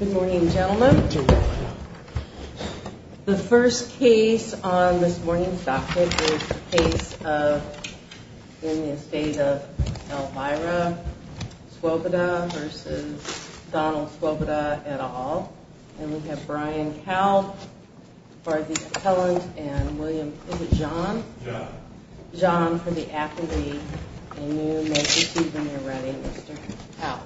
Good morning, gentlemen. The first case on this morning's docket is the case of in the Estate of Elvira Svoboda versus Donald Svoboda et al. And we have Brian Cowell for the appellant and William, is it John? John for the appellate and you may proceed when you're ready, Mr. Cowell.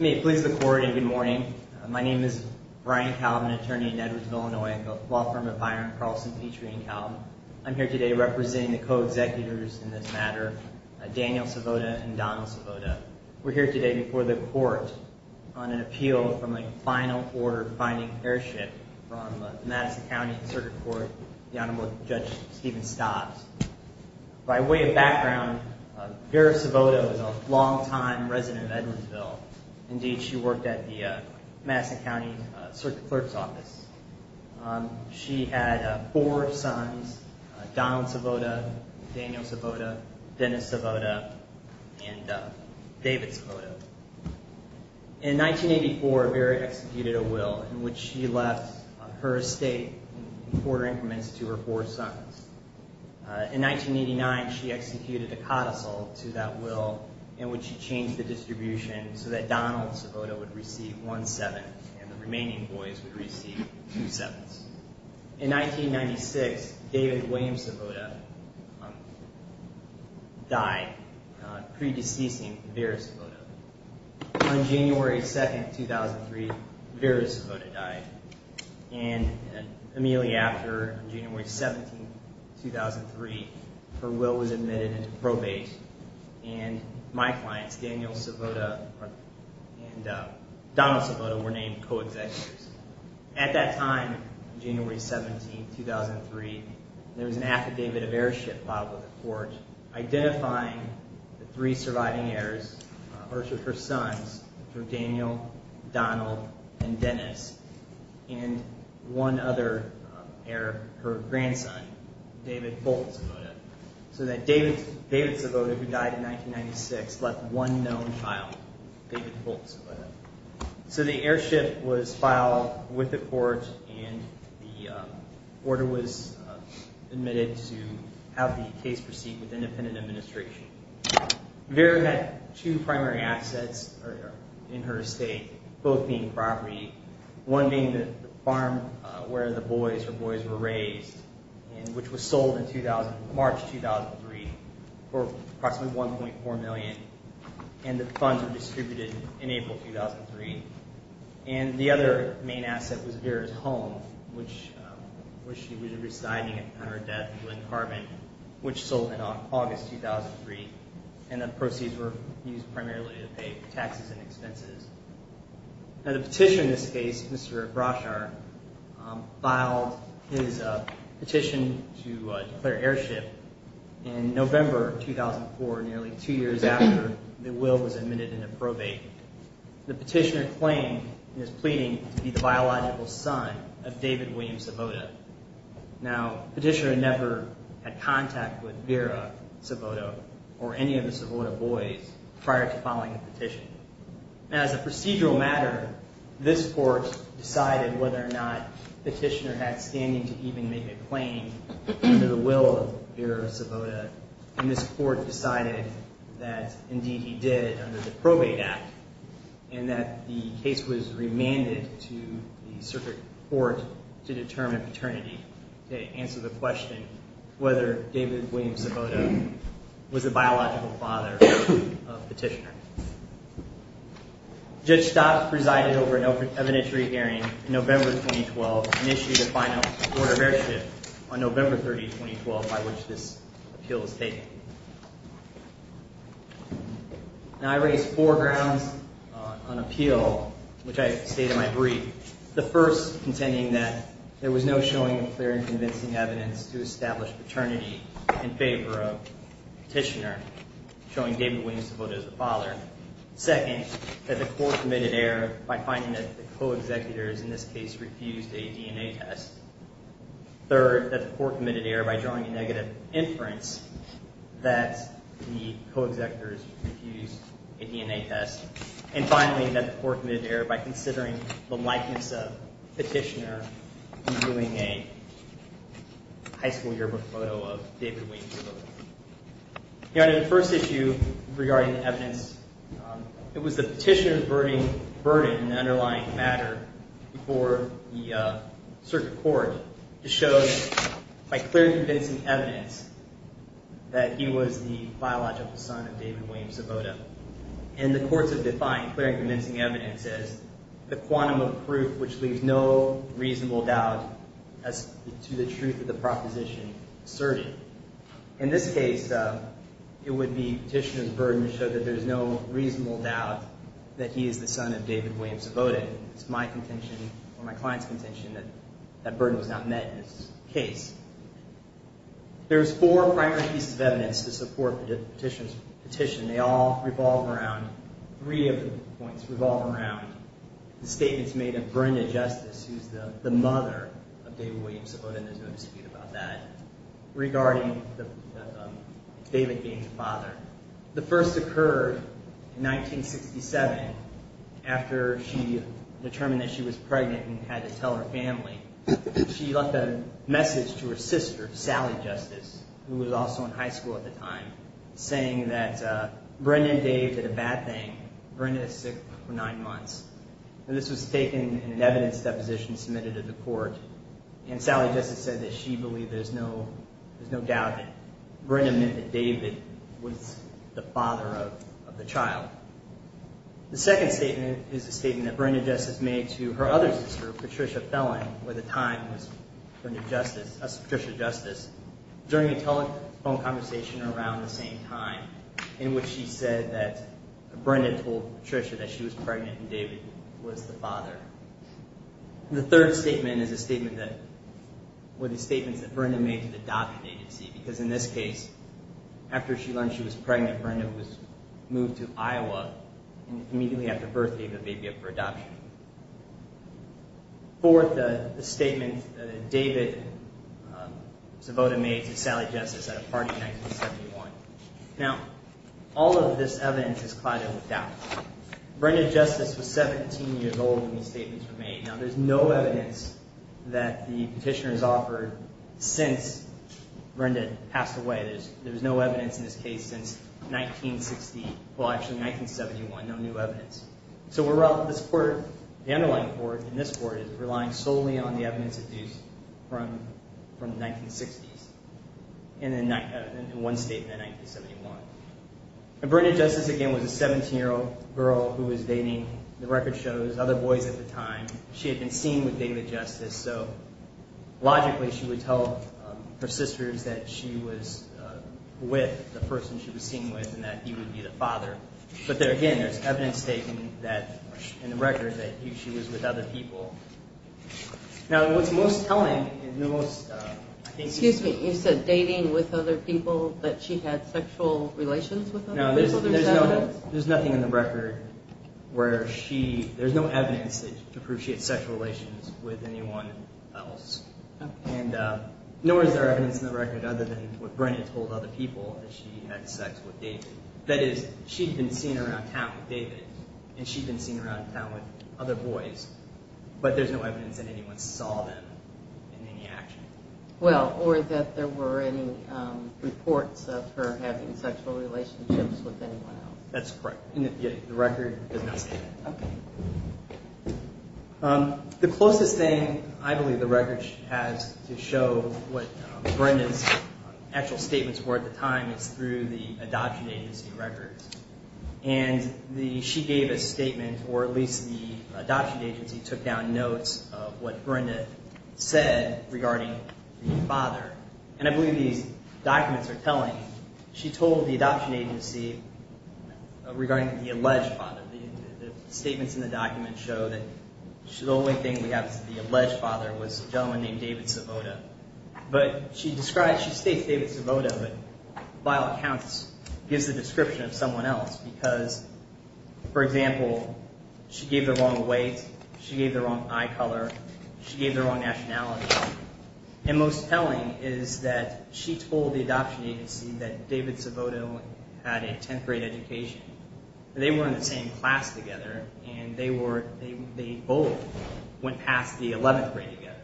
May it please the court, and good morning. My name is Brian Cowell. I'm an attorney in Edwardsville, Illinois at the law firm of Byron Carlson Petrie & Cowell. I'm here today representing the co-executives in this matter, Daniel Svoboda and Donald Svoboda. We're here today before the court on an appeal from a final order finding heirship from Madison County Circuit Court, the Honorable Judge Stephen Stobbs. By way of background, Vera Svoboda was a long-time resident of Edwardsville. Indeed, she worked at the Madison County Circuit Clerk's Office. She had four sons, Donald Svoboda, Daniel Svoboda, Dennis Svoboda, and David Svoboda. In 1984, Vera executed a will in which she left her estate in quarter increments to her four sons. In 1989, she executed a codicil to that will in which she changed the distribution so that Donald Svoboda would receive one-seventh and the remaining boys would receive two-sevenths. In 1996, David William Svoboda died pre-deceasing Vera Svoboda. On January 2nd, 2003, Vera Svoboda died. And immediately after, January 17th, 2003, her will was admitted into probate and my clients, Daniel Svoboda and Donald Svoboda, were named co-executives. At that time, January 17th, 2003, there was an affidavit of heirship filed with the court identifying the three surviving heirs, her sons, Daniel, Donald, and Dennis, and one other heir, her grandson, David Bolt Svoboda. So that David Svoboda, who died in 1996, left one known child, David Bolt Svoboda. So the heirship was filed with the court and the order was admitted to have the case proceed with independent administration. Vera had two primary assets in her estate, both being property, one being the farm where the boys were raised, which was sold in March 2003 for approximately $1.4 million. And the funds were distributed in April 2003. And the other main asset was Vera's home, which she was residing in on her death in Glen Carbon, which sold in August 2003. And the proceeds were used primarily to pay for taxes and expenses. Now, the petitioner in this case, Mr. Broshar, filed his petition to declare heirship in November 2004, nearly two years after the will was admitted into probate. The petitioner claimed and is pleading to be the biological son of David William Svoboda. Now, the petitioner never had contact with Vera Svoboda or any of the Svoboda boys prior to filing the petition. Now, as a procedural matter, this court decided whether or not the petitioner had standing to even make a claim under the will of Vera Svoboda. And this court decided that, indeed, he did under the Probate Act, and that the case was remanded to the circuit court to determine paternity to answer the question whether David William Svoboda was the biological father of the petitioner. Judge Stott presided over an evidentiary hearing in November 2012 and issued a final order of heirship on November 30, 2012, by which this appeal was taken. Now, I raised four grounds on appeal, which I state in my brief. The first, contending that there was no showing of clear and convincing evidence to establish paternity in favor of the petitioner, showing David William Svoboda as the father. Second, that the court committed error by finding that the co-executors in this case refused a DNA test. Third, that the court committed error by drawing a negative inference that the co-executors refused a DNA test. And finally, that the court committed error by considering the likeness of the petitioner in viewing a high school yearbook photo of David William Svoboda. Your Honor, the first issue regarding the evidence, it was the petitioner's burden in the underlying matter before the circuit court that showed by clear and convincing evidence that he was the biological son of David William Svoboda. And the courts have defined clear and convincing evidence as the quantum of proof which leaves no reasonable doubt as to the truth of the proposition asserted. In this case, it would be petitioner's burden to show that there's no reasonable doubt that he is the son of David William Svoboda. It's my contention, or my client's contention, that that burden was not met in this case. There's four primary pieces of evidence to support the petitioner's petition. They all revolve around, three of the points revolve around the statements made of Brenda Justice, who's the mother of David William Svoboda, and there's no dispute about that, regarding David being the father. The first occurred in 1967 after she determined that she was pregnant and had to tell her family. She left a message to her sister, Sally Justice, who was also in high school at the time, saying that Brenda and Dave did a bad thing. Brenda was sick for nine months. And this was taken in an evidence deposition submitted to the court, and Sally Justice said that she believed there's no doubt that Brenda meant that David was the father of the child. The second statement is a statement that Brenda Justice made to her other sister, Patricia Fellon, who at the time was Patricia Justice, during a telephone conversation around the same time, in which she said that Brenda told Patricia that she was pregnant and David was the father. The third statement is a statement that, were the statements that Brenda made to the adoption agency, because in this case, after she learned she was pregnant, Brenda was moved to Iowa, and immediately after birth, gave the baby up for adoption. Fourth, a statement that David Savoda made to Sally Justice at a party in 1971. Now, all of this evidence is clouded with doubt. Brenda Justice was 17 years old when these statements were made. Now, there's no evidence that the petitioners offered since Brenda passed away. There's no evidence in this case since 1960, well, actually, 1971, no new evidence. So, the underlying court in this court is relying solely on the evidence deduced from the 1960s, and one statement in 1971. Brenda Justice, again, was a 17-year-old girl who was dating, the record shows, other boys at the time. She had been seen with David Justice, so logically, she would tell her sisters that she was with the person she was seen with and that he would be the father. But there, again, there's evidence taken that, in the record, that she was with other people. Now, what's most telling is the most, I think... Excuse me, you said dating with other people, that she had sexual relations with them? No, there's nothing in the record where she, there's no evidence to prove she had sexual relations with anyone else. And nowhere is there evidence in the record other than what Brenda told other people, that she had sex with David. That is, she'd been seen around town with David, and she'd been seen around town with other boys, but there's no evidence that anyone saw them in any action. Well, or that there were any reports of her having sexual relationships with anyone else. That's correct, and the record does not state that. Okay. The closest thing, I believe, the record has to show what Brenda's actual statements were at the time is through the adoption agency records. And she gave a statement, or at least the adoption agency took down notes of what Brenda said regarding the father. And I believe these documents are telling, she told the adoption agency regarding the alleged father. The statements in the documents show that the only thing we have is the alleged father was a gentleman named David Savota. But she describes, she states David Savota, but by all accounts gives the description of someone else, because, for example, she gave the wrong weight, she gave the wrong eye color, she gave the wrong nationality. And most telling is that she told the adoption agency that David Savota only had a 10th grade education. They were in the same class together, and they both went past the 11th grade together.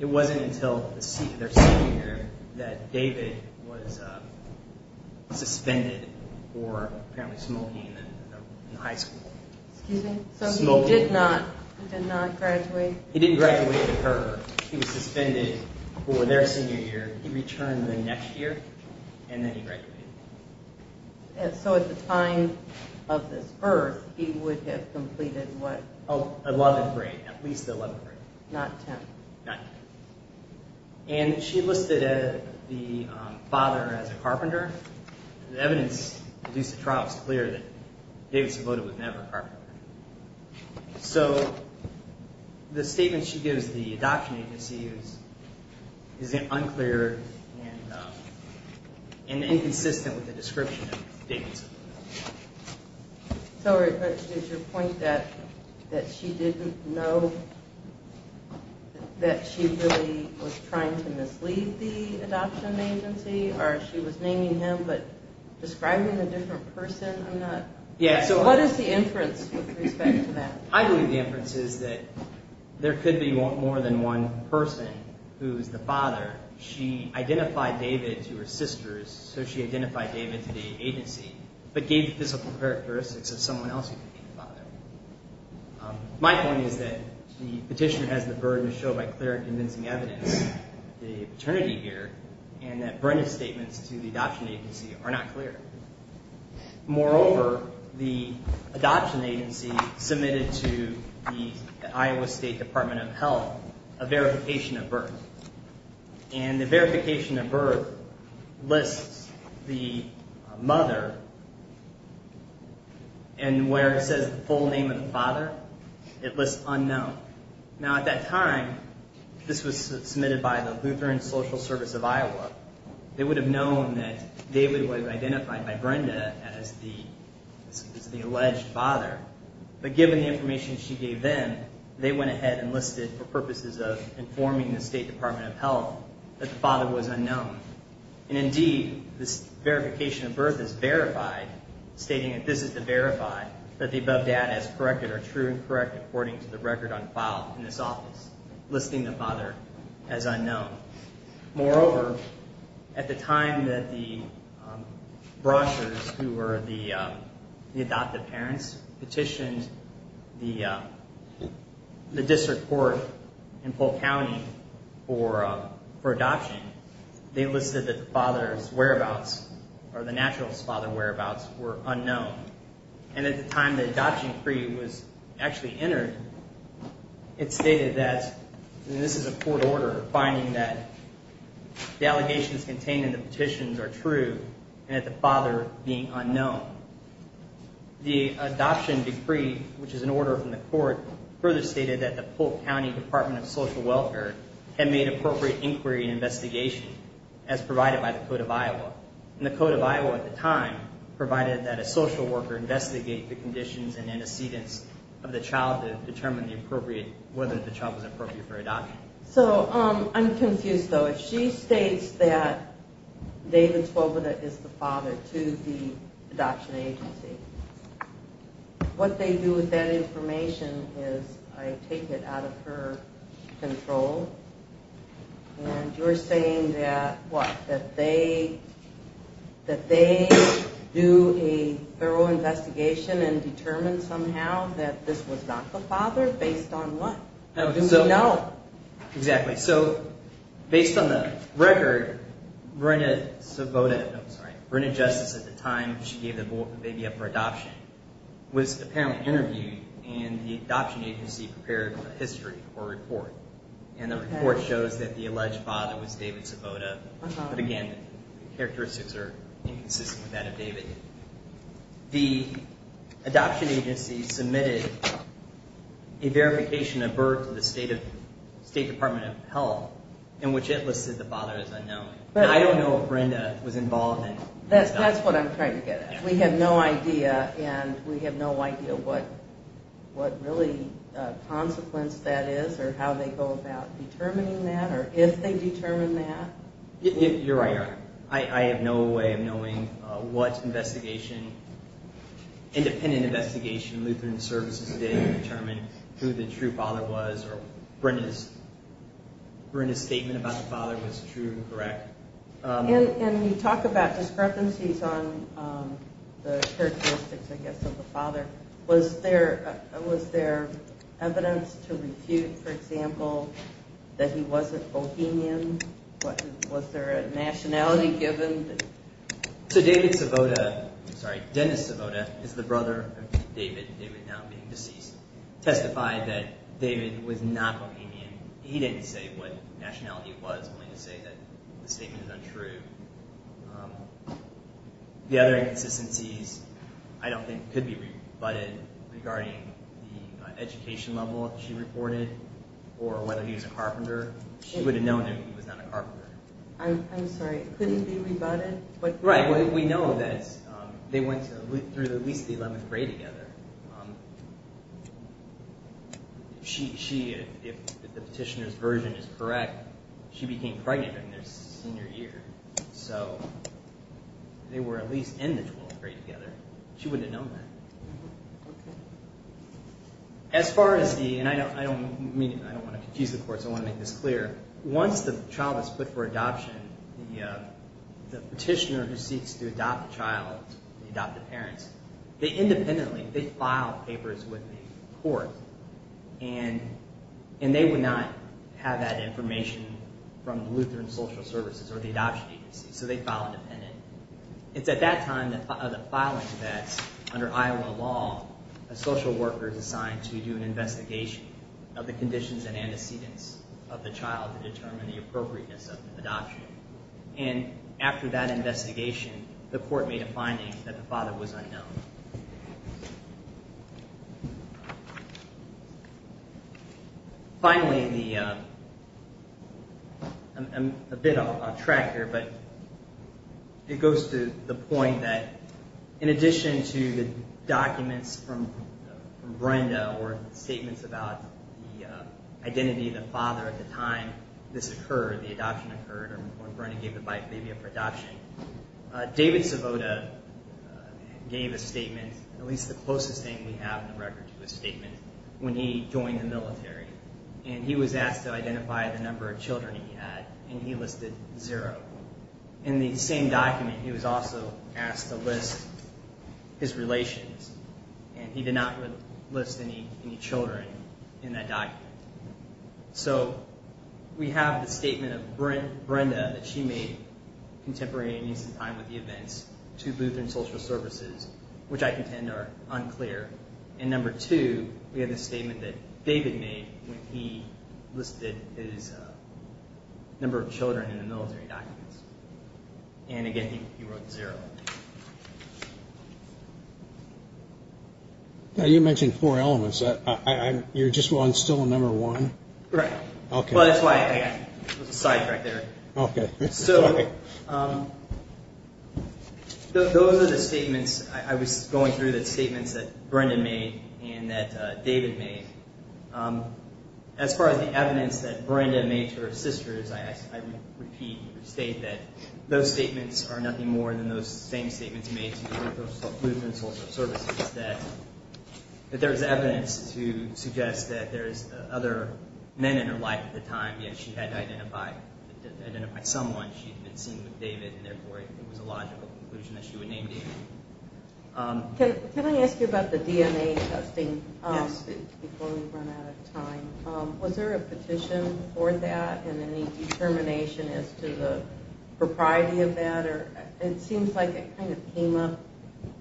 It wasn't until their senior year that David was suspended for apparently smoking in high school. Excuse me? Smoking. So he did not graduate? He didn't graduate at her. He was suspended for their senior year. He returned the next year, and then he graduated. And so at the time of this birth, he would have completed what? 11th grade, at least the 11th grade. Not 10th? Not 10th. And she listed the father as a carpenter. The evidence produced at trial is clear that David Savota was never a carpenter. So the statement she gives the adoption agency is unclear and inconsistent with the description of David Savota. Sorry, but is your point that she didn't know that she really was trying to mislead the adoption agency, or she was naming him but describing a different person? What is the inference with respect to that? I believe the inference is that there could be more than one person who is the father. She identified David to her sisters, so she identified David to the agency, but gave the physical characteristics of someone else who could be the father. My point is that the petitioner has the burden to show by clear and convincing evidence the paternity here, and that Brenda's statements to the adoption agency are not clear. Moreover, the adoption agency submitted to the Iowa State Department of Health a verification of birth. And the verification of birth lists the mother, and where it says the full name of the father, it lists unknown. Now, at that time, this was submitted by the Lutheran Social Service of Iowa. They would have known that David was identified by Brenda as the alleged father, but given the information she gave them, they went ahead and listed for purposes of informing the State Department of Health that the father was unknown. And indeed, this verification of birth is verified, stating that this is to verify that the above data is correct or true and correct, according to the record on file in this office, listing the father as unknown. Moreover, at the time that the Bronchers, who were the adoptive parents, petitioned the district court in Polk County for adoption, they listed that the father's whereabouts, or the naturalist father's whereabouts, were unknown. And at the time the adoption decree was actually entered, it stated that, and this is a court order, finding that the allegations contained in the petitions are true, and that the father being unknown. The adoption decree, which is an order from the court, further stated that the Polk County Department of Social Welfare had made appropriate inquiry and investigation, as provided by the Code of Iowa. And the Code of Iowa at the time provided that a social worker investigate the conditions and antecedents of the child to determine the appropriate, whether the child was appropriate for adoption. So, I'm confused though. If she states that David Swoboda is the father to the adoption agency, what they do with that information is, I take it out of her control, and you're saying that, what, that they do a thorough investigation and determine somehow that this was not the father, based on what? How do we know? Exactly. So, based on the record, Brenda Swoboda, no, I'm sorry, Brenda Justice, at the time she gave the baby up for adoption, was apparently interviewed, and the adoption agency prepared a history, or a report. And the report shows that the alleged father was David Swoboda, but again, the characteristics are inconsistent with that of David. The adoption agency submitted a verification of birth to the State Department of Health, in which it listed the father as unknown. I don't know if Brenda was involved in this. That's what I'm trying to get at. We have no idea, and we have no idea what really consequence that is, or how they go about determining that, or if they determine that. You're right. I have no way of knowing what independent investigation Lutheran Services did to determine who the true father was, or Brenda's statement about the father was true and correct. And you talk about discrepancies on the characteristics, I guess, of the father. Was there evidence to refute, for example, that he wasn't Bohemian? Was there a nationality given? So, David Swoboda, I'm sorry, Dennis Swoboda is the brother of David, David now being deceased, testified that David was not Bohemian. He didn't say what nationality it was, only to say that the statement is untrue. The other inconsistencies I don't think could be rebutted regarding the education level she reported, or whether he was a carpenter. She would have known that he was not a carpenter. I'm sorry, it couldn't be rebutted? Right, we know that they went through at least the 11th grade together. She, if the petitioner's version is correct, she became pregnant in their senior year. So, they were at least in the 12th grade together. She would have known that. As far as the, and I don't mean, I don't want to confuse the courts, I want to make this clear. Once the child is put for adoption, the petitioner who seeks to adopt the child, the adoptive parents, they independently, they file papers with the court, and they would not have that information from Lutheran Social Services or the adoption agency. So, they file independently. It's at that time of the filing that, under Iowa law, a social worker is assigned to do an investigation of the conditions and antecedents of the child to determine the appropriateness of the adoption. And after that investigation, the court made a finding that the father was unknown. Finally, the, I'm a bit off track here, but it goes to the point that in addition to the documents from Brenda or statements about the identity of the father at the time this occurred, the adoption occurred, or when Brenda gave the biphobia for adoption, David Savota gave a statement, at least the closest thing we have in the record to his statement, when he joined the military. And he was asked to identify the number of children he had, and he listed zero. In the same document, he was also asked to list his relations, and he did not list any children in that document. So, we have the statement of Brenda that she made, contemporary and in some time with the events, to Lutheran Social Services, which I contend are unclear. And number two, we have the statement that David made when he listed his number of children in the military documents. And again, he wrote zero. Now, you mentioned four elements. You're just still on number one? Right. Okay. Well, that's why I was a sidetrack there. Okay. So, those are the statements. I was going through the statements that Brenda made and that David made. As far as the evidence that Brenda made to her sisters, I repeat and restate that those statements are nothing more than those same statements made to Lutheran Social Services, that there's evidence to suggest that there's other men in her life at the time, yet she had to identify someone. She had been seen with David, and therefore, it was a logical conclusion that she would name David. Can I ask you about the DNA testing? Yes. Before we run out of time, was there a petition for that and any determination as to the propriety of that? It seems like it kind of came up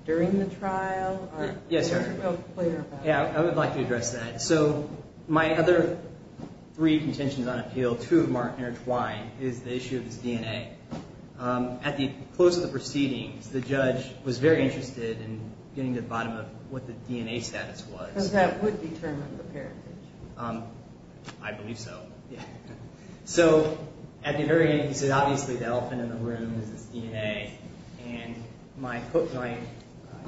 during the trial. Yes, sir. It wasn't real clear about it. Yeah. I would like to address that. So, my other three contentions on appeal, two of them aren't intertwined, is the issue of this DNA. At the close of the proceedings, the judge was very interested in getting to the bottom of what the DNA status was. Because that would determine the parentage. I believe so, yeah. So, at the very end, he said, obviously, the elephant in the room is this DNA. And my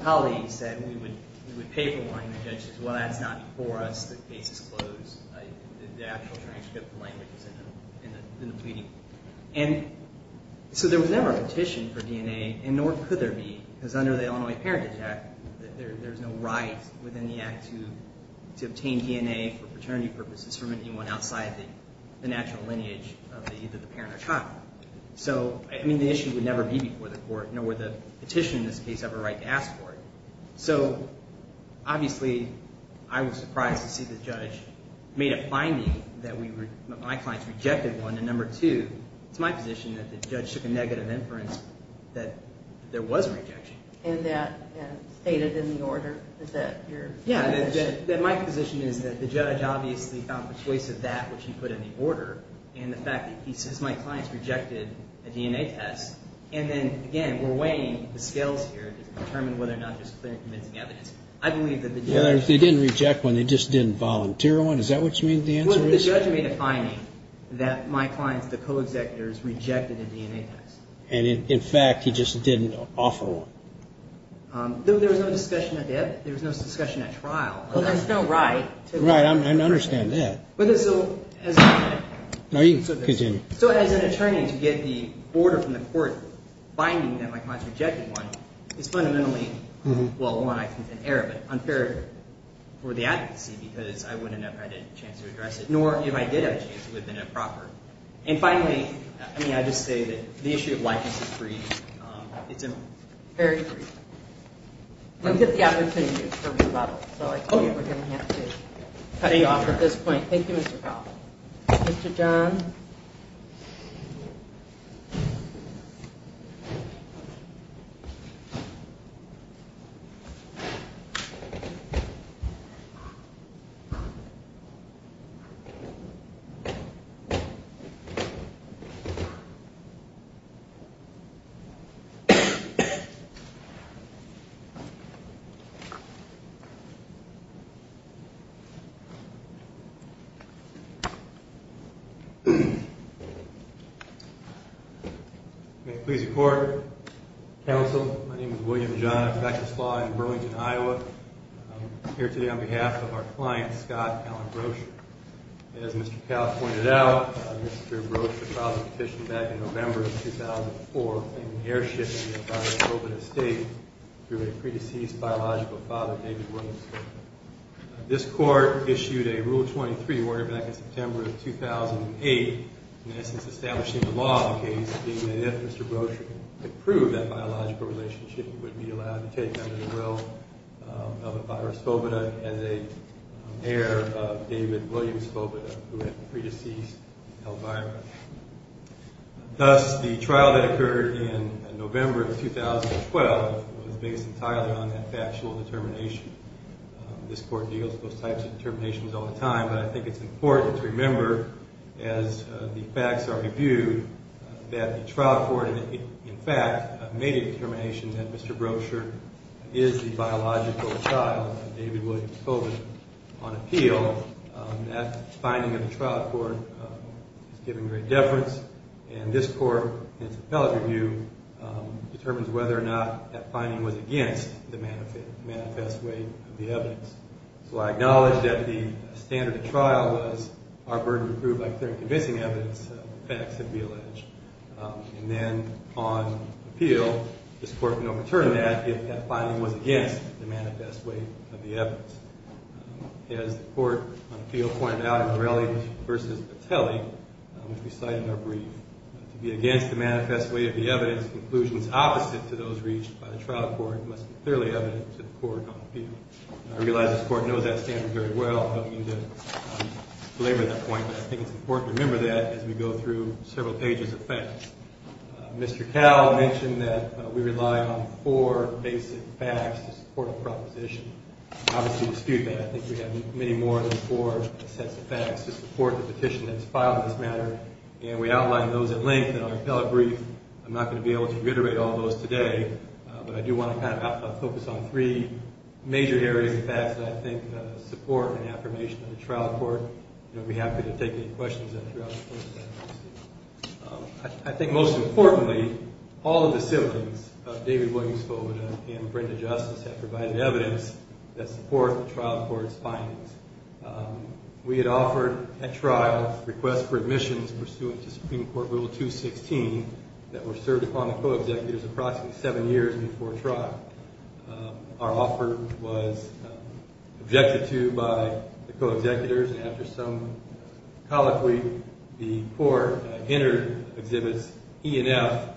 colleague said we would pay for one, and the judge said, well, that's not for us. The case is closed. The actual transcript, the language is in the pleading. And so there was never a petition for DNA, and nor could there be. Because under the Illinois Parentage Act, there's no right within the act to obtain DNA for paternity purposes from anyone outside the natural lineage of either the parent or child. So, I mean, the issue would never be before the court, nor would the petition in this case have a right to ask for it. So, obviously, I was surprised to see the judge made a finding that my clients rejected one. And number two, it's my position that the judge took a negative inference that there was a rejection. And that stated in the order that your position is. Yeah, that my position is that the judge obviously found persuasive that which he put in the order. And the fact that he says my clients rejected a DNA test. And then, again, we're weighing the scales here to determine whether or not there's clear and convincing evidence. I believe that the judge. They didn't reject one. They just didn't volunteer one. Is that what you mean, the answer is? The judge made a finding that my clients, the co-executors, rejected a DNA test. And, in fact, he just didn't offer one. There was no discussion of that. There was no discussion at trial. Well, there's no right. Right. I understand that. So, as an attorney to get the order from the court finding that my clients rejected one is fundamentally, well, one, I think an error. But unfair for the advocacy because I wouldn't have had a chance to address it. Nor if I did have a chance, it would have been improper. And, finally, I mean, I just say that the issue of likeness is brief. It's very brief. We'll get the opportunity for rebuttal. So I think we're going to have to cut you off at this point. Thank you, Mr. Fowler. Mr. John. Thank you. Thank you. Thank you. Thank you. Please record. Counsel, my name is William John. I practice law in Burlington, Iowa. I'm here today on behalf of our client, Scott Allen Brocher. As Mr. Cowell pointed out, Mr. Brocher filed a petition back in November of 2004 claiming airship in the United States through a pre-deceased biological father, David Williams. This court issued a Rule 23 back in September of 2008, in essence establishing the law of the case, being that if Mr. Brocher could prove that biological relationship, he would be allowed to take under the will of Elvira Spobita as a heir of David Williams Spobita, who had a pre-deceased Elvira. Thus, the trial that occurred in November of 2012 was based entirely on that factual determination. This court deals with those types of determinations all the time, but I think it's important to remember as the facts are reviewed that the trial court, in fact, made a determination that Mr. Brocher is the biological child of David Williams Spobita on appeal. That finding of the trial court is given great deference, and this court, in its appellate review, determines whether or not that finding was against the manifest weight of the evidence. So I acknowledge that the standard of trial was our burden to prove by clear and convincing evidence the facts that we allege. And then on appeal, this court can overturn that if that finding was against the manifest weight of the evidence. As the court on appeal pointed out in Morelli v. Patelli, which we cite in our brief, to be against the manifest weight of the evidence, conclusions opposite to those reached by the trial court must be clearly evident to the court on appeal. I realize this court knows that standard very well. I don't mean to belabor that point, but I think it's important to remember that as we go through several pages of facts. Mr. Cowell mentioned that we rely on four basic facts to support a proposition. Obviously, to dispute that, I think we have many more than four sets of facts to support the petition that's filed in this matter, and we outlined those at length in our appellate brief. I'm not going to be able to reiterate all those today, but I do want to kind of focus on three major areas of facts that I think support an affirmation of the trial court. I'd be happy to take any questions that you have. I think most importantly, all of the siblings of David Williams Fovita and Brenda Justice have provided evidence that supports the trial court's findings. We had offered at trial requests for admissions pursuant to Supreme Court Rule 216 that were served upon the co-executors approximately seven years before trial. Our offer was objected to by the co-executors, and after some colloquy, the court entered Exhibits E and F,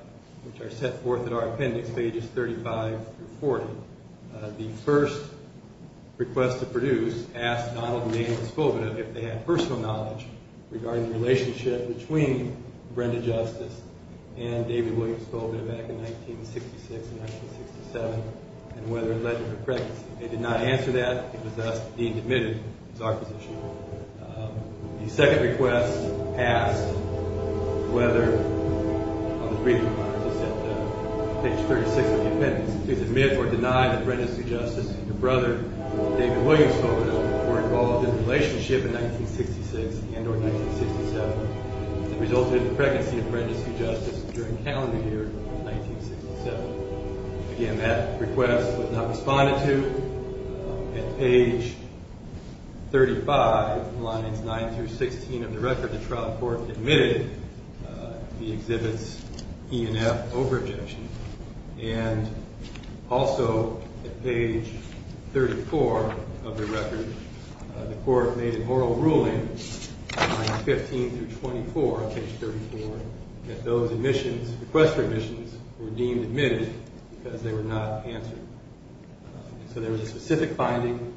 which are set forth in our appendix, pages 35 through 40. The first request to produce asked Donald and Dana Fovita if they had personal knowledge regarding the relationship between Brenda Justice and David Williams Fovita back in 1966 and 1967, and whether it led to her pregnancy. They did not answer that. It was thus deemed admitted as our position. The second request asked whether, on the briefing cards, page 36 of the appendix, to admit or deny that Brenda Sue Justice and her brother David Williams Fovita were involved in a relationship in 1966 and or 1967 that resulted in the pregnancy of Brenda Sue Justice during calendar year 1967. Again, that request was not responded to. At page 35, lines 9 through 16 of the record, the trial court admitted the Exhibits E and F over-objection. And also, at page 34 of the record, the court made a moral ruling, lines 15 through 24 of page 34, that those admissions, request for admissions, were deemed admitted because they were not answered. So there was a specific finding,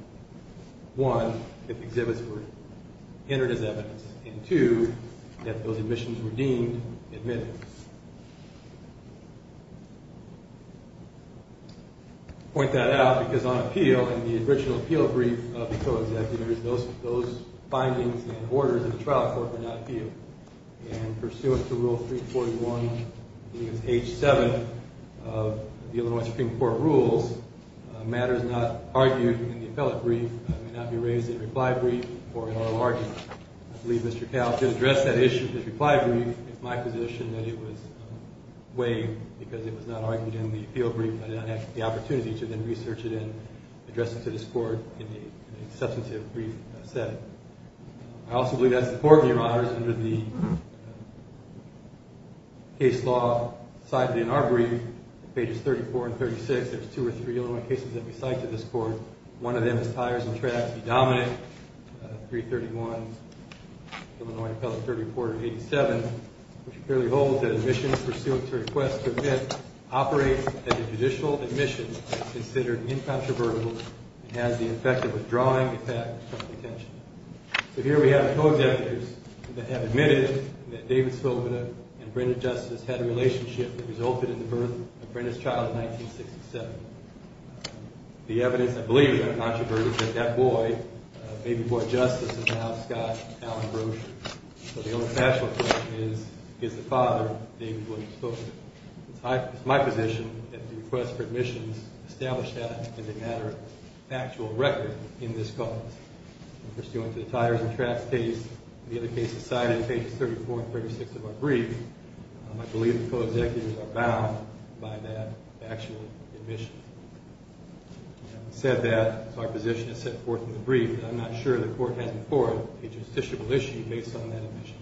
one, that the exhibits were entered as evidence, and two, that those admissions were deemed admitted. I point that out because on appeal, in the original appeal brief of the Co-Executives, those findings and orders of the trial court were not appealed. And pursuant to Rule 341, I believe it's H-7 of the Illinois Supreme Court rules, matters not argued in the appellate brief may not be raised in a reply brief or an oral argument. I believe Mr. Couch did address that issue in his reply brief. It's my position that it was weighed because it was not argued in the appeal brief. I did not have the opportunity to then research it and address it to this court in a substantive brief set. I also believe that's the court, Your Honors, under the case law cited in our brief, pages 34 and 36. There's two or three Illinois cases that we cite to this court. One of them is Tires and Tracks v. Dominick, 331, Illinois Appellate Court Reporter 87, which clearly holds that admissions pursuant to request to admit operates at a judicial admission that is considered incontrovertible and has the effect of withdrawing the fact from detention. So here we have Co-Executives that have admitted that David Svoboda and Brenda Justice had a relationship that resulted in the birth of Brenda's child in 1967. The evidence I believe is incontrovertible is that that boy, baby boy Justice, is now Scott Allen Brosher. So the only factual evidence is the father, David William Svoboda. It's my position that the request for admissions established that in the matter of factual record in this case. The Tires and Tracks case, the other case cited in pages 34 and 36 of our brief, I believe the Co-Executives are bound by that factual admission. Having said that, our position is set forth in the brief. I'm not sure the court has before a justiciable issue based on that admission.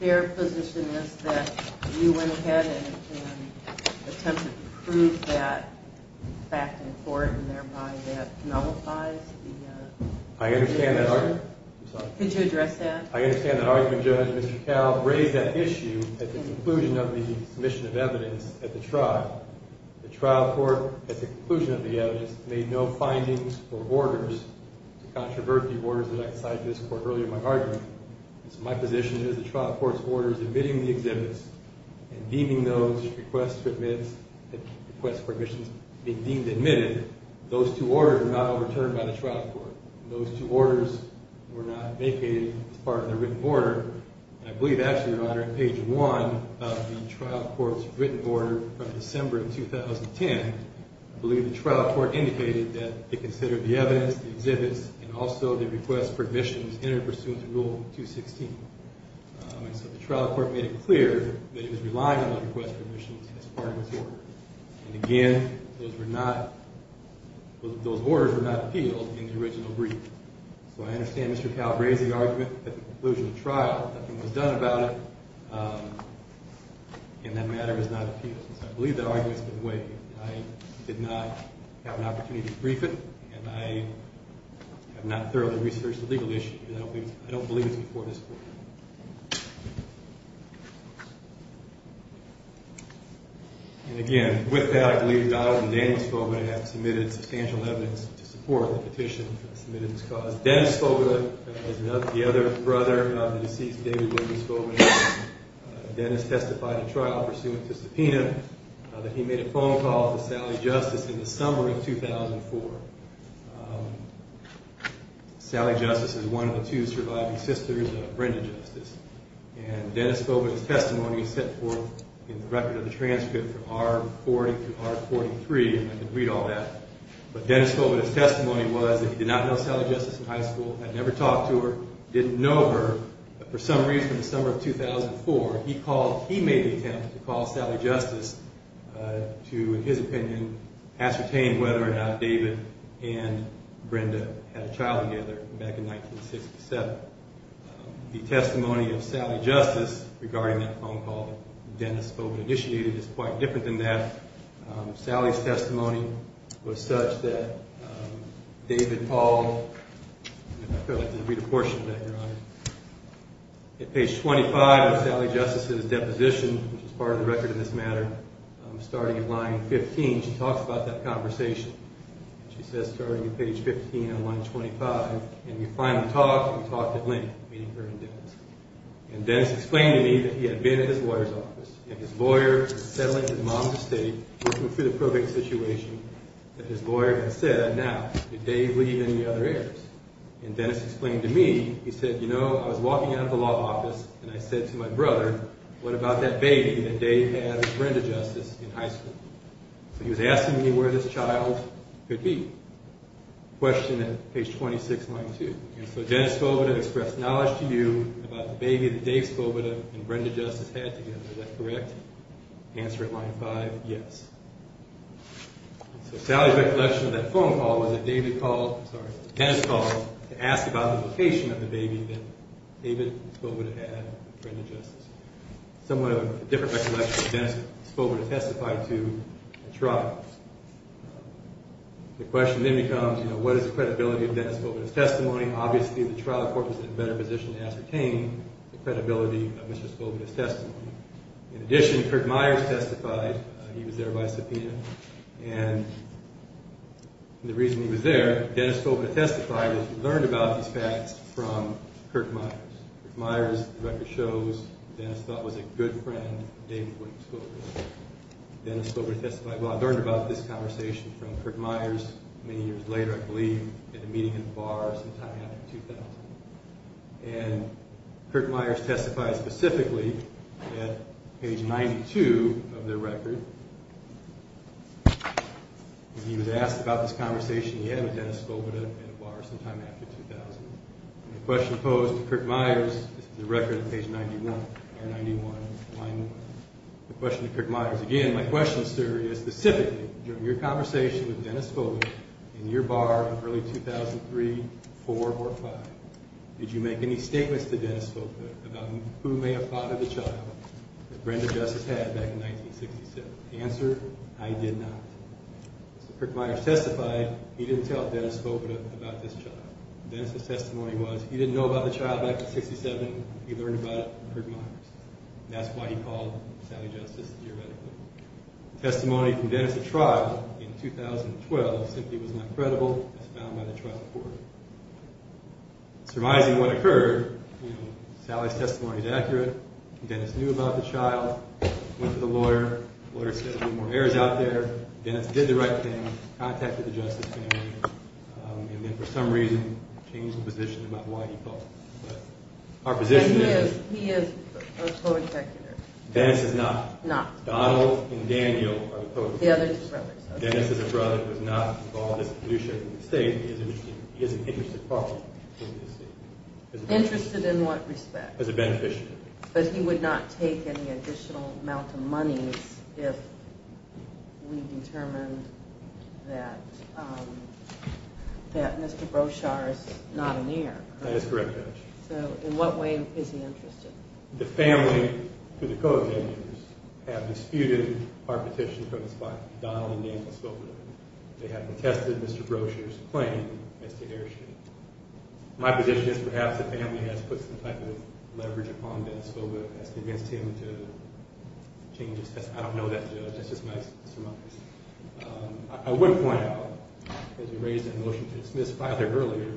Their position is that you went ahead and attempted to prove that fact in court and thereby that nullifies the issue? I understand that argument. Could you address that? I understand that argument, Judge. Mr. Cowell raised that issue at the conclusion of the submission of evidence at the trial. The trial court, at the conclusion of the evidence, made no findings or orders to controvert the orders that I cited to this court earlier in my argument. So my position is the trial court's orders admitting the exhibits and deeming those requests for admissions to be deemed admitted, those two orders were not overturned by the trial court. Those two orders were not vacated as part of the written order. I believe actually, Your Honor, on page 1 of the trial court's written order from December of 2010, I believe the trial court indicated that it considered the evidence, the exhibits, and also the request for admissions interpursuant to Rule 216. And so the trial court made it clear that it was reliant on the request for admissions as part of its order. And again, those orders were not appealed in the original brief. So I understand Mr. Cowell raised the argument at the conclusion of the trial. Nothing was done about it, and that matter is not appealed. So I believe that argument has been waived. I did not have an opportunity to brief it, and I have not thoroughly researched the legal issue. I don't believe it's before this Court. And again, with that, I believe Donald and Daniel Skova have submitted substantial evidence to support the petition submitted as caused. Dennis Skova is the other brother of the deceased David Williams Skova. Dennis testified in trial pursuant to subpoena that he made a phone call to Sally Justice in the summer of 2004. Sally Justice is one of the two surviving sisters of Brenda Justice. And Dennis Skova's testimony is set forth in the record of the transcript from R40 to R43, and I can read all that. But Dennis Skova's testimony was that he did not know Sally Justice in high school, had never talked to her, didn't know her, but for some reason in the summer of 2004, he made the attempt to call Sally Justice to, in his opinion, ascertain whether or not David and Brenda had a child together back in 1967. The testimony of Sally Justice regarding that phone call that Dennis Skova initiated is quite different than that. Sally's testimony was such that David Paul, and I feel like I didn't read a portion of that, Your Honor. At page 25 of Sally Justice's deposition, which is part of the record in this matter, starting at line 15, she talks about that conversation. She says, starting at page 15 on line 25, and we finally talked, and we talked at length, meeting her and Dennis. And Dennis explained to me that he had been at his lawyer's office, and his lawyer was settling for the mom's estate, working through the probate situation, and his lawyer had said, now, did Dave leave any other heirs? And Dennis explained to me, he said, you know, I was walking out of the law office, and I said to my brother, what about that baby that Dave had with Brenda Justice in high school? So he was asking me where this child could be. Question at page 26, line 2. And so Dennis Skova expressed knowledge to you about the baby that Dave Skova and Brenda Justice had together. Is that correct? Answer at line 5, yes. So Sally's recollection of that phone call was that David called, I'm sorry, Dennis called to ask about the location of the baby that David Skova had with Brenda Justice. Somewhat of a different recollection than Dennis Skova testified to at trial. The question then becomes, you know, what is the credibility of Dennis Skova's testimony? Obviously, the trial court was in a better position to ascertain the credibility of Mr. Skova's testimony. In addition, Kirk Meyers testified. He was there by subpoena. And the reason he was there, Dennis Skova testified is he learned about these facts from Kirk Meyers. Kirk Meyers' record shows Dennis thought was a good friend of David Wood Skova. Dennis Skova testified, well, I learned about this conversation from Kirk Meyers many years later, I believe, at a meeting in a bar sometime after 2000. And Kirk Meyers testified specifically at page 92 of their record. He was asked about this conversation he had with Dennis Skova at a bar sometime after 2000. The question posed to Kirk Meyers is the record at page 91, line one. The question to Kirk Meyers, again, my question, sir, is specifically, during your conversation with Dennis Skova in your bar in early 2003, four or five, did you make any statements to Dennis Skova about who may have fathered the child that Brenda Justice had back in 1967? The answer, I did not. As Kirk Meyers testified, he didn't tell Dennis Skova about this child. Dennis' testimony was he didn't know about the child back in 1967. He learned about it from Kirk Meyers. That's why he called Sally Justice, theoretically. The testimony from Dennis' trial in 2012 simply was not credible as found by the trial report. Surprising what occurred, you know, Sally's testimony is accurate. Dennis knew about the child, went to the lawyer. The lawyer said there were more errors out there. Dennis did the right thing, contacted the Justice family, and then for some reason changed the position about why he called. But our position is— He is a co-executor. Dennis is not. Donald and Daniel are the co-executors. The other two brothers. Dennis is a brother who is not involved in this pollution in the state. He is an interested party in the state. Interested in what respect? As a beneficiary. But he would not take any additional amount of money if we determined that Mr. Broshar is not an heir. That is correct, Judge. So in what way is he interested? The family, who are the co-executors, have disputed our petition from the spot. Donald and Daniel spoke with him. They have contested Mr. Broshar's claim as the heir should. My position is perhaps the family has put some type of leverage upon Dennis Colvin as to convince him to change his test. I don't know that, Judge. That's just my— I would point out, as you raised that motion to dismiss Fyler earlier,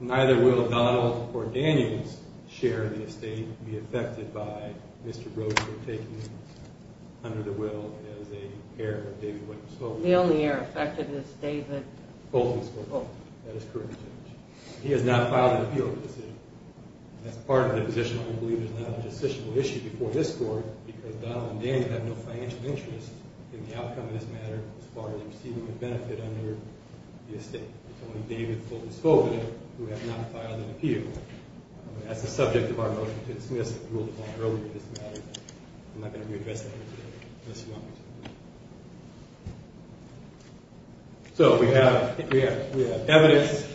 neither will Donald or Daniel's share of the estate be affected by Mr. Broshar taking him under the will as a heir of David Williams Colvin. The only heir affected is David— Colvin. Oh, that is correct, Judge. He has not filed an appeal for the decision. That's part of the position. I believe there's not a decisional issue before this Court because Donald and Daniel have no financial interest in the outcome of this matter as far as receiving a benefit under the estate. It's only David and Colvin who have not filed an appeal. That's the subject of our motion to dismiss the rule of law earlier in this matter. I'm not going to readdress that here today unless you want me to. So we have evidence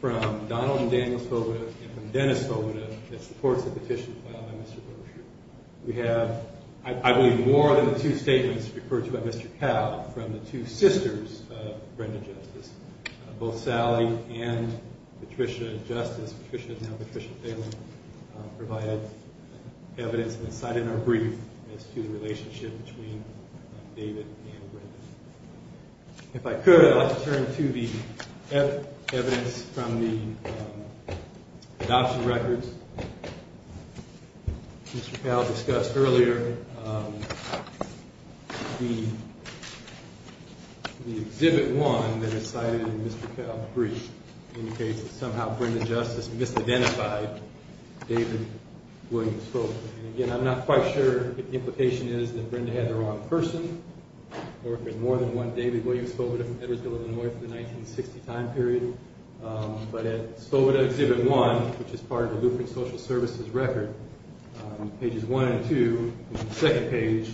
from Donald and Daniel Svoboda and from Dennis Svoboda that supports the petition filed by Mr. Broshar. We have, I believe, more than the two statements referred to by Mr. Cowell from the two sisters of Brenda Justice. Both Sally and Patricia Justice—Patricia is now Patricia Phelan— If I could, I'd like to turn to the evidence from the adoption records. Mr. Cowell discussed earlier the Exhibit 1 that is cited in Mr. Cowell's brief indicates that somehow Brenda Justice misidentified David Williams Svoboda. Again, I'm not quite sure what the implication is that Brenda had the wrong person or if it was more than one David Williams Svoboda from Pettersville, Illinois, for the 1960 time period. But at Svoboda Exhibit 1, which is part of the Lupern Social Services record, on pages 1 and 2, on the second page,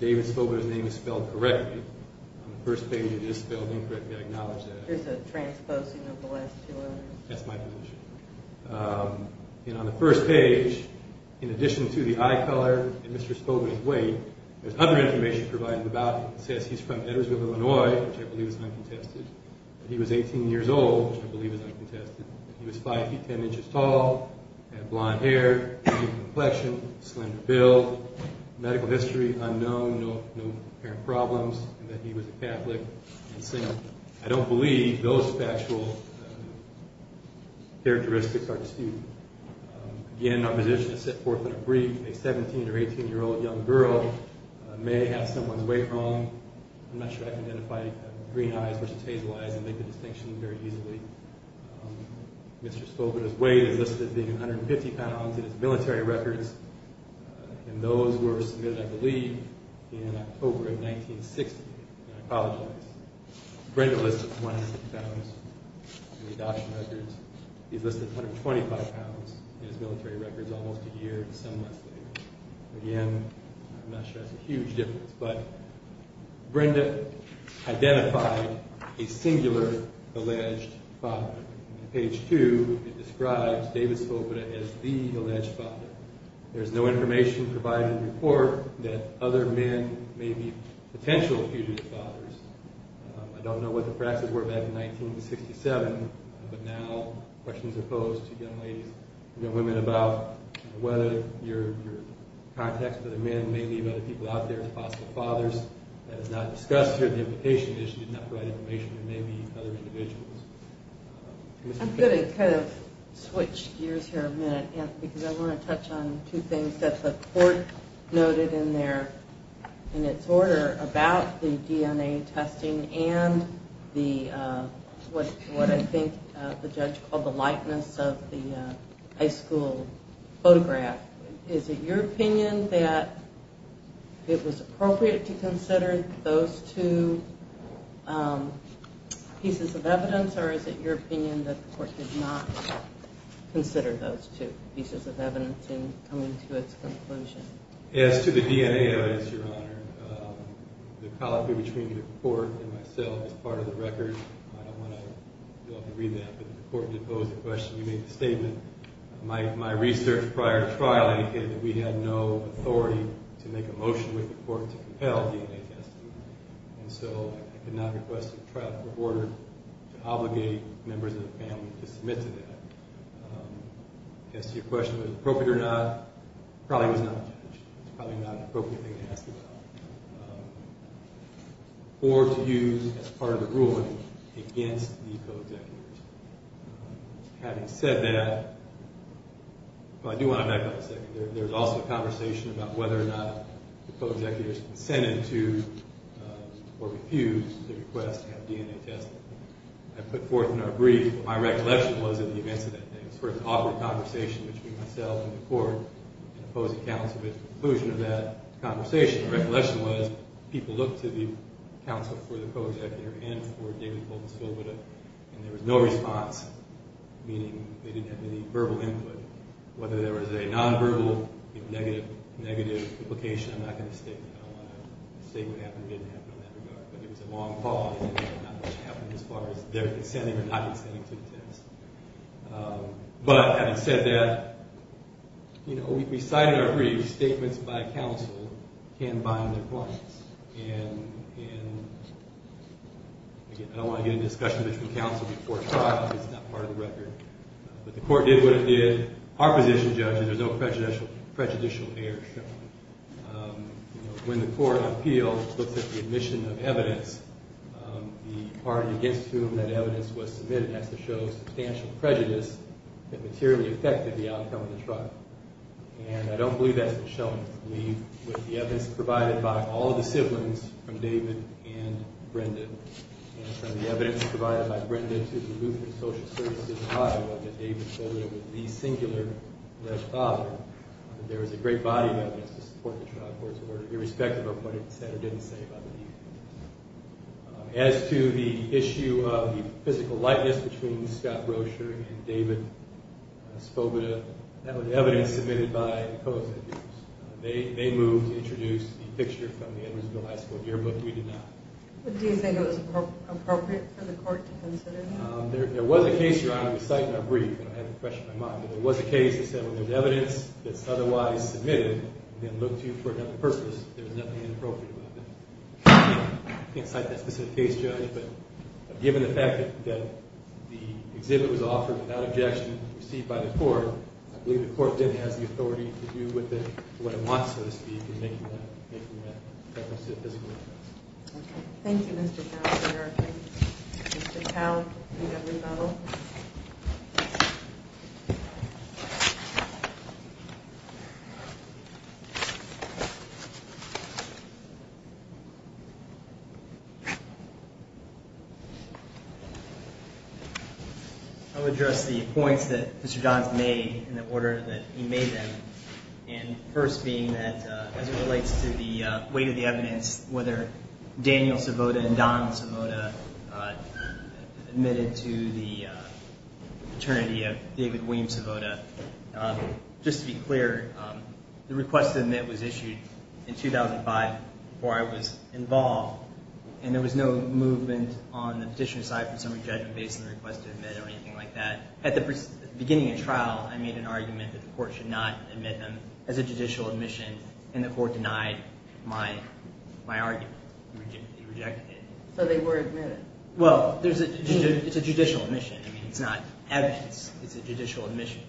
David Svoboda's name is spelled correctly. On the first page, it is spelled incorrectly. I acknowledge that. There's a transposing of the last two letters. That's my position. And on the first page, in addition to the eye color and Mr. Svoboda's weight, there's other information provided about him. It says he's from Pettersville, Illinois, which I believe is uncontested, that he was 18 years old, which I believe is uncontested, that he was 5 feet 10 inches tall, had blonde hair, had deep complexion, slender build, medical history unknown, no apparent problems, and that he was a Catholic. I don't believe those factual characteristics are true. Again, my position is set forth in a brief. A 17 or 18-year-old young girl may have someone's weight wrong. I'm not sure I can identify green eyes versus hazel eyes and make the distinction very easily. Mr. Svoboda's weight is listed as being 150 pounds in his military records, and those were submitted, I believe, in October of 1960. And I apologize. Brenda lists it as 150 pounds in the adoption records. He's listed as 125 pounds in his military records almost a year and some months later. Again, I'm not sure that's a huge difference, but Brenda identified a singular alleged father. On page 2, it describes David Svoboda as the alleged father. There's no information provided in the report that other men may be potential fugitive fathers. I don't know what the practices were back in 1967, but now questions are posed to young ladies and young women about whether your contacts with other men may leave other people out there as possible fathers. That is not discussed here. There may be other individuals. I'm going to kind of switch gears here a minute, because I want to touch on two things that the court noted in its order about the DNA testing and what I think the judge called the likeness of the high school photograph. Is it your opinion that it was appropriate to consider those two pieces of evidence, or is it your opinion that the court did not consider those two pieces of evidence in coming to its conclusion? As to the DNA evidence, Your Honor, the colloquy between the court and myself is part of the record. I don't want you all to read that, but the court did pose the question. You made the statement. My research prior to trial indicated that we had no authority to make a motion with the court to compel DNA testing, and so I could not request a trial court order to obligate members of the family to submit to that. As to your question of whether it was appropriate or not, it probably was not a judge. It's probably not an appropriate thing to ask about, or to use as part of the ruling against these co-executors. Having said that, I do want to back up a second. There was also a conversation about whether or not the co-executors consented to or refused the request to have DNA tested. I put forth in our brief what my recollection was of the events of that day. It was sort of an awkward conversation between myself and the court and opposing counsel, but at the conclusion of that conversation, the recollection was people looked to the counsel for the co-executor and for David Fulton Svoboda, and there was no response, meaning they didn't have any verbal input. Whether there was a nonverbal or negative implication, I'm not going to state that. I don't want to say what happened or didn't happen in that regard, but it was a long pause and not much happened as far as their consenting or not consenting to the test. But having said that, we cite in our brief statements by counsel can bind their clients, and again, I don't want to get into discussion between counsel before trial because it's not part of the record. But the court did what it did. Our position, judges, there's no prejudicial error shown. When the court appeals, it looks at the admission of evidence. The party against whom that evidence was submitted has to show substantial prejudice that materially affected the outcome of the trial. And I don't believe that's been shown. The evidence provided by all of the siblings, from David and Brenda, and from the evidence provided by Brenda to the Lutheran Social Services Tribe, that David Svoboda was the singular left father, there was a great body of evidence to support the trial court's order, irrespective of what it said or didn't say about the defense. As to the issue of the physical likeness between Scott Roescher and David Svoboda, that was evidence submitted by the co-executives. They moved to introduce the picture from the Edwardsville High School yearbook. We did not. Do you think it was appropriate for the court to consider that? There was a case, Your Honor, we cite in our brief, and I have it fresh in my mind, but there was a case that said when there's evidence that's otherwise submitted, then looked to for another purpose, there's nothing inappropriate about that. I can't cite that specific case, Judge, but given the fact that the exhibit was offered without objection, received by the court, I believe the court then has the authority to do with it what it wants, so to speak, in making that reference to the physical likeness. Thank you, Mr. Powell. Mr. Powell, you have rebuttal. I would address the points that Mr. Johns made in the order that he made them, and first being that as it relates to the weight of the evidence, whether Daniel Svoboda and Don Svoboda admitted to the paternity of David William Svoboda, just to be clear, the request to admit was issued in 2005 before I was involved, and there was no movement on the petition aside from summary judgment based on the request to admit or anything like that. At the beginning of trial, I made an argument that the court should not admit them as a judicial admission, and the court denied my argument. It rejected it. So they were admitted. Well, it's a judicial admission. I mean, it's not evidence. It's a judicial admission.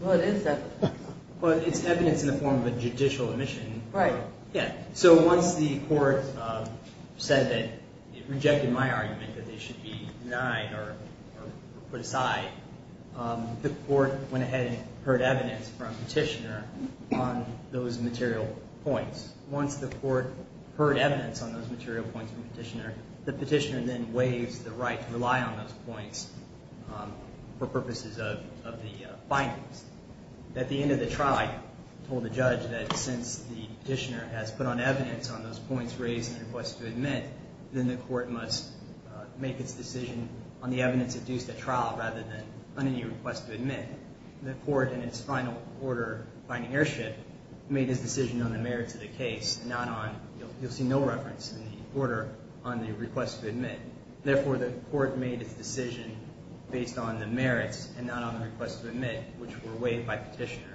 Well, it is evidence. Well, it's evidence in the form of a judicial admission. Right. Yeah. So once the court said that it rejected my argument that they should be denied or put aside, the court went ahead and heard evidence from Petitioner on those material points. Once the court heard evidence on those material points from Petitioner, the Petitioner then waives the right to rely on those points for purposes of the findings. At the end of the trial, I told the judge that since the Petitioner has put on evidence on those points raised in the request to admit, then the court must make its decision on the evidence adduced at trial rather than on any request to admit. The court, in its final order, finding earship, made its decision on the merits of the case, not on the – you'll see no reference in the order on the request to admit. Therefore, the court made its decision based on the merits and not on the request to admit, which were waived by Petitioner.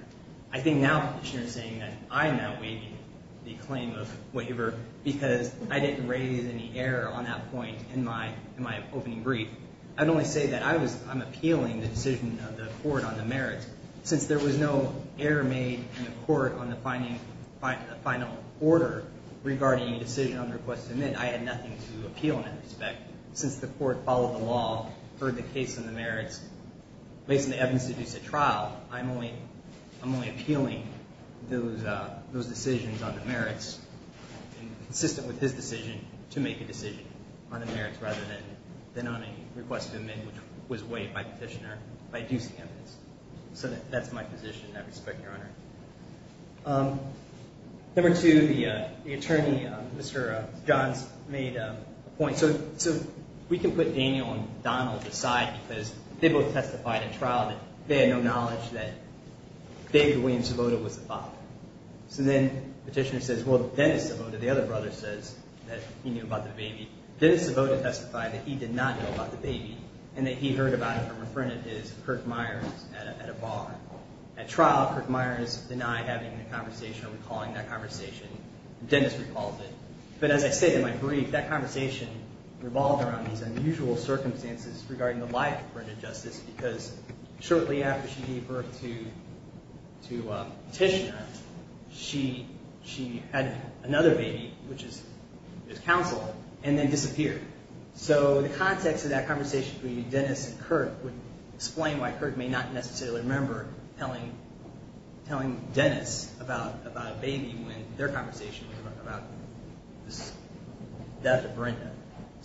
I think now Petitioner is saying that I'm not waiving the claim of waiver because I didn't raise any error on that point in my opening brief. I'd only say that I'm appealing the decision of the court on the merits. Since there was no error made in the court on the final order regarding the decision on the request to admit, I had nothing to appeal in that respect. Since the court followed the law, heard the case and the merits, based on the evidence adduced at trial, I'm only appealing those decisions on the merits, consistent with his decision, to make a decision on the merits rather than on any request to admit, which was waived by Petitioner by adducing evidence. So that's my position, and I respect your honor. Number two, the attorney, Mr. Johns, made a point. So we can put Daniel and Donald aside because they both testified at trial that they had no knowledge that David Williams Savota was the father. So then Petitioner says, well, Dennis Savota, the other brother, says that he knew about the baby. Dennis Savota testified that he did not know about the baby and that he heard about it from a friend of his, Kirk Myers, at a bar. At trial, Kirk Myers denied having a conversation or recalling that conversation. Dennis recalled it. But as I said in my brief, that conversation revolved around these unusual circumstances regarding the life of Brenda Justice because shortly after she gave birth to Petitioner, she had another baby, which is counsel, and then disappeared. So the context of that conversation between Dennis and Kirk would explain why Kirk may not necessarily remember telling Dennis about a baby when their conversation was about the death of Brenda.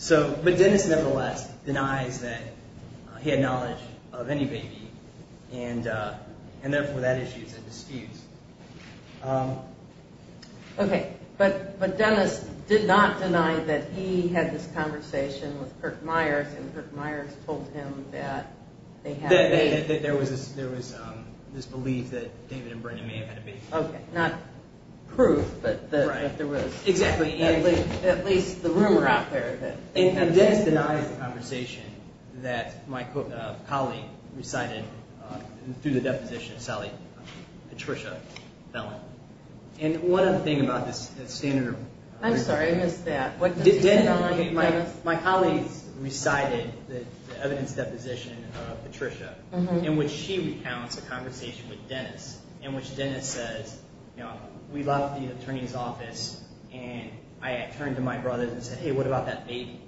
But Dennis, nevertheless, denies that he had knowledge of any baby, and therefore that issue is a dispute. Okay, but Dennis did not deny that he had this conversation with Kirk Myers, and Kirk Myers told him that they had a baby. There was this belief that David and Brenda may have had a baby. Okay, not proof, but that there was at least the rumor out there that they had a baby. And Dennis denies the conversation that my colleague recited through the deposition of Sally Patricia Fellon. And one other thing about this standard. I'm sorry, I missed that. My colleague recited the evidence deposition of Patricia in which she recounts a conversation with Dennis in which Dennis says, you know, we left the attorney's office and I turned to my brother and said, hey, what about that baby?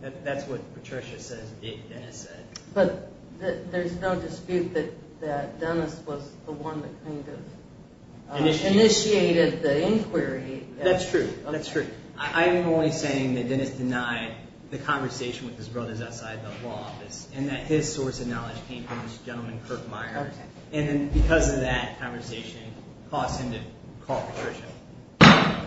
That's what Patricia says Dennis said. But there's no dispute that Dennis was the one that kind of initiated the inquiry. That's true, that's true. I'm only saying that Dennis denied the conversation with his brothers outside the law office and that his source of knowledge came from this gentleman, Kirk Myers, and then because of that conversation caused him to call Patricia.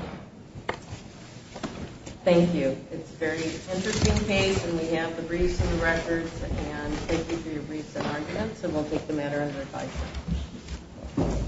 Thank you. It's a very interesting case, and we have the briefs and the records, and thank you for your briefs and arguments, and we'll take the matter under advisory.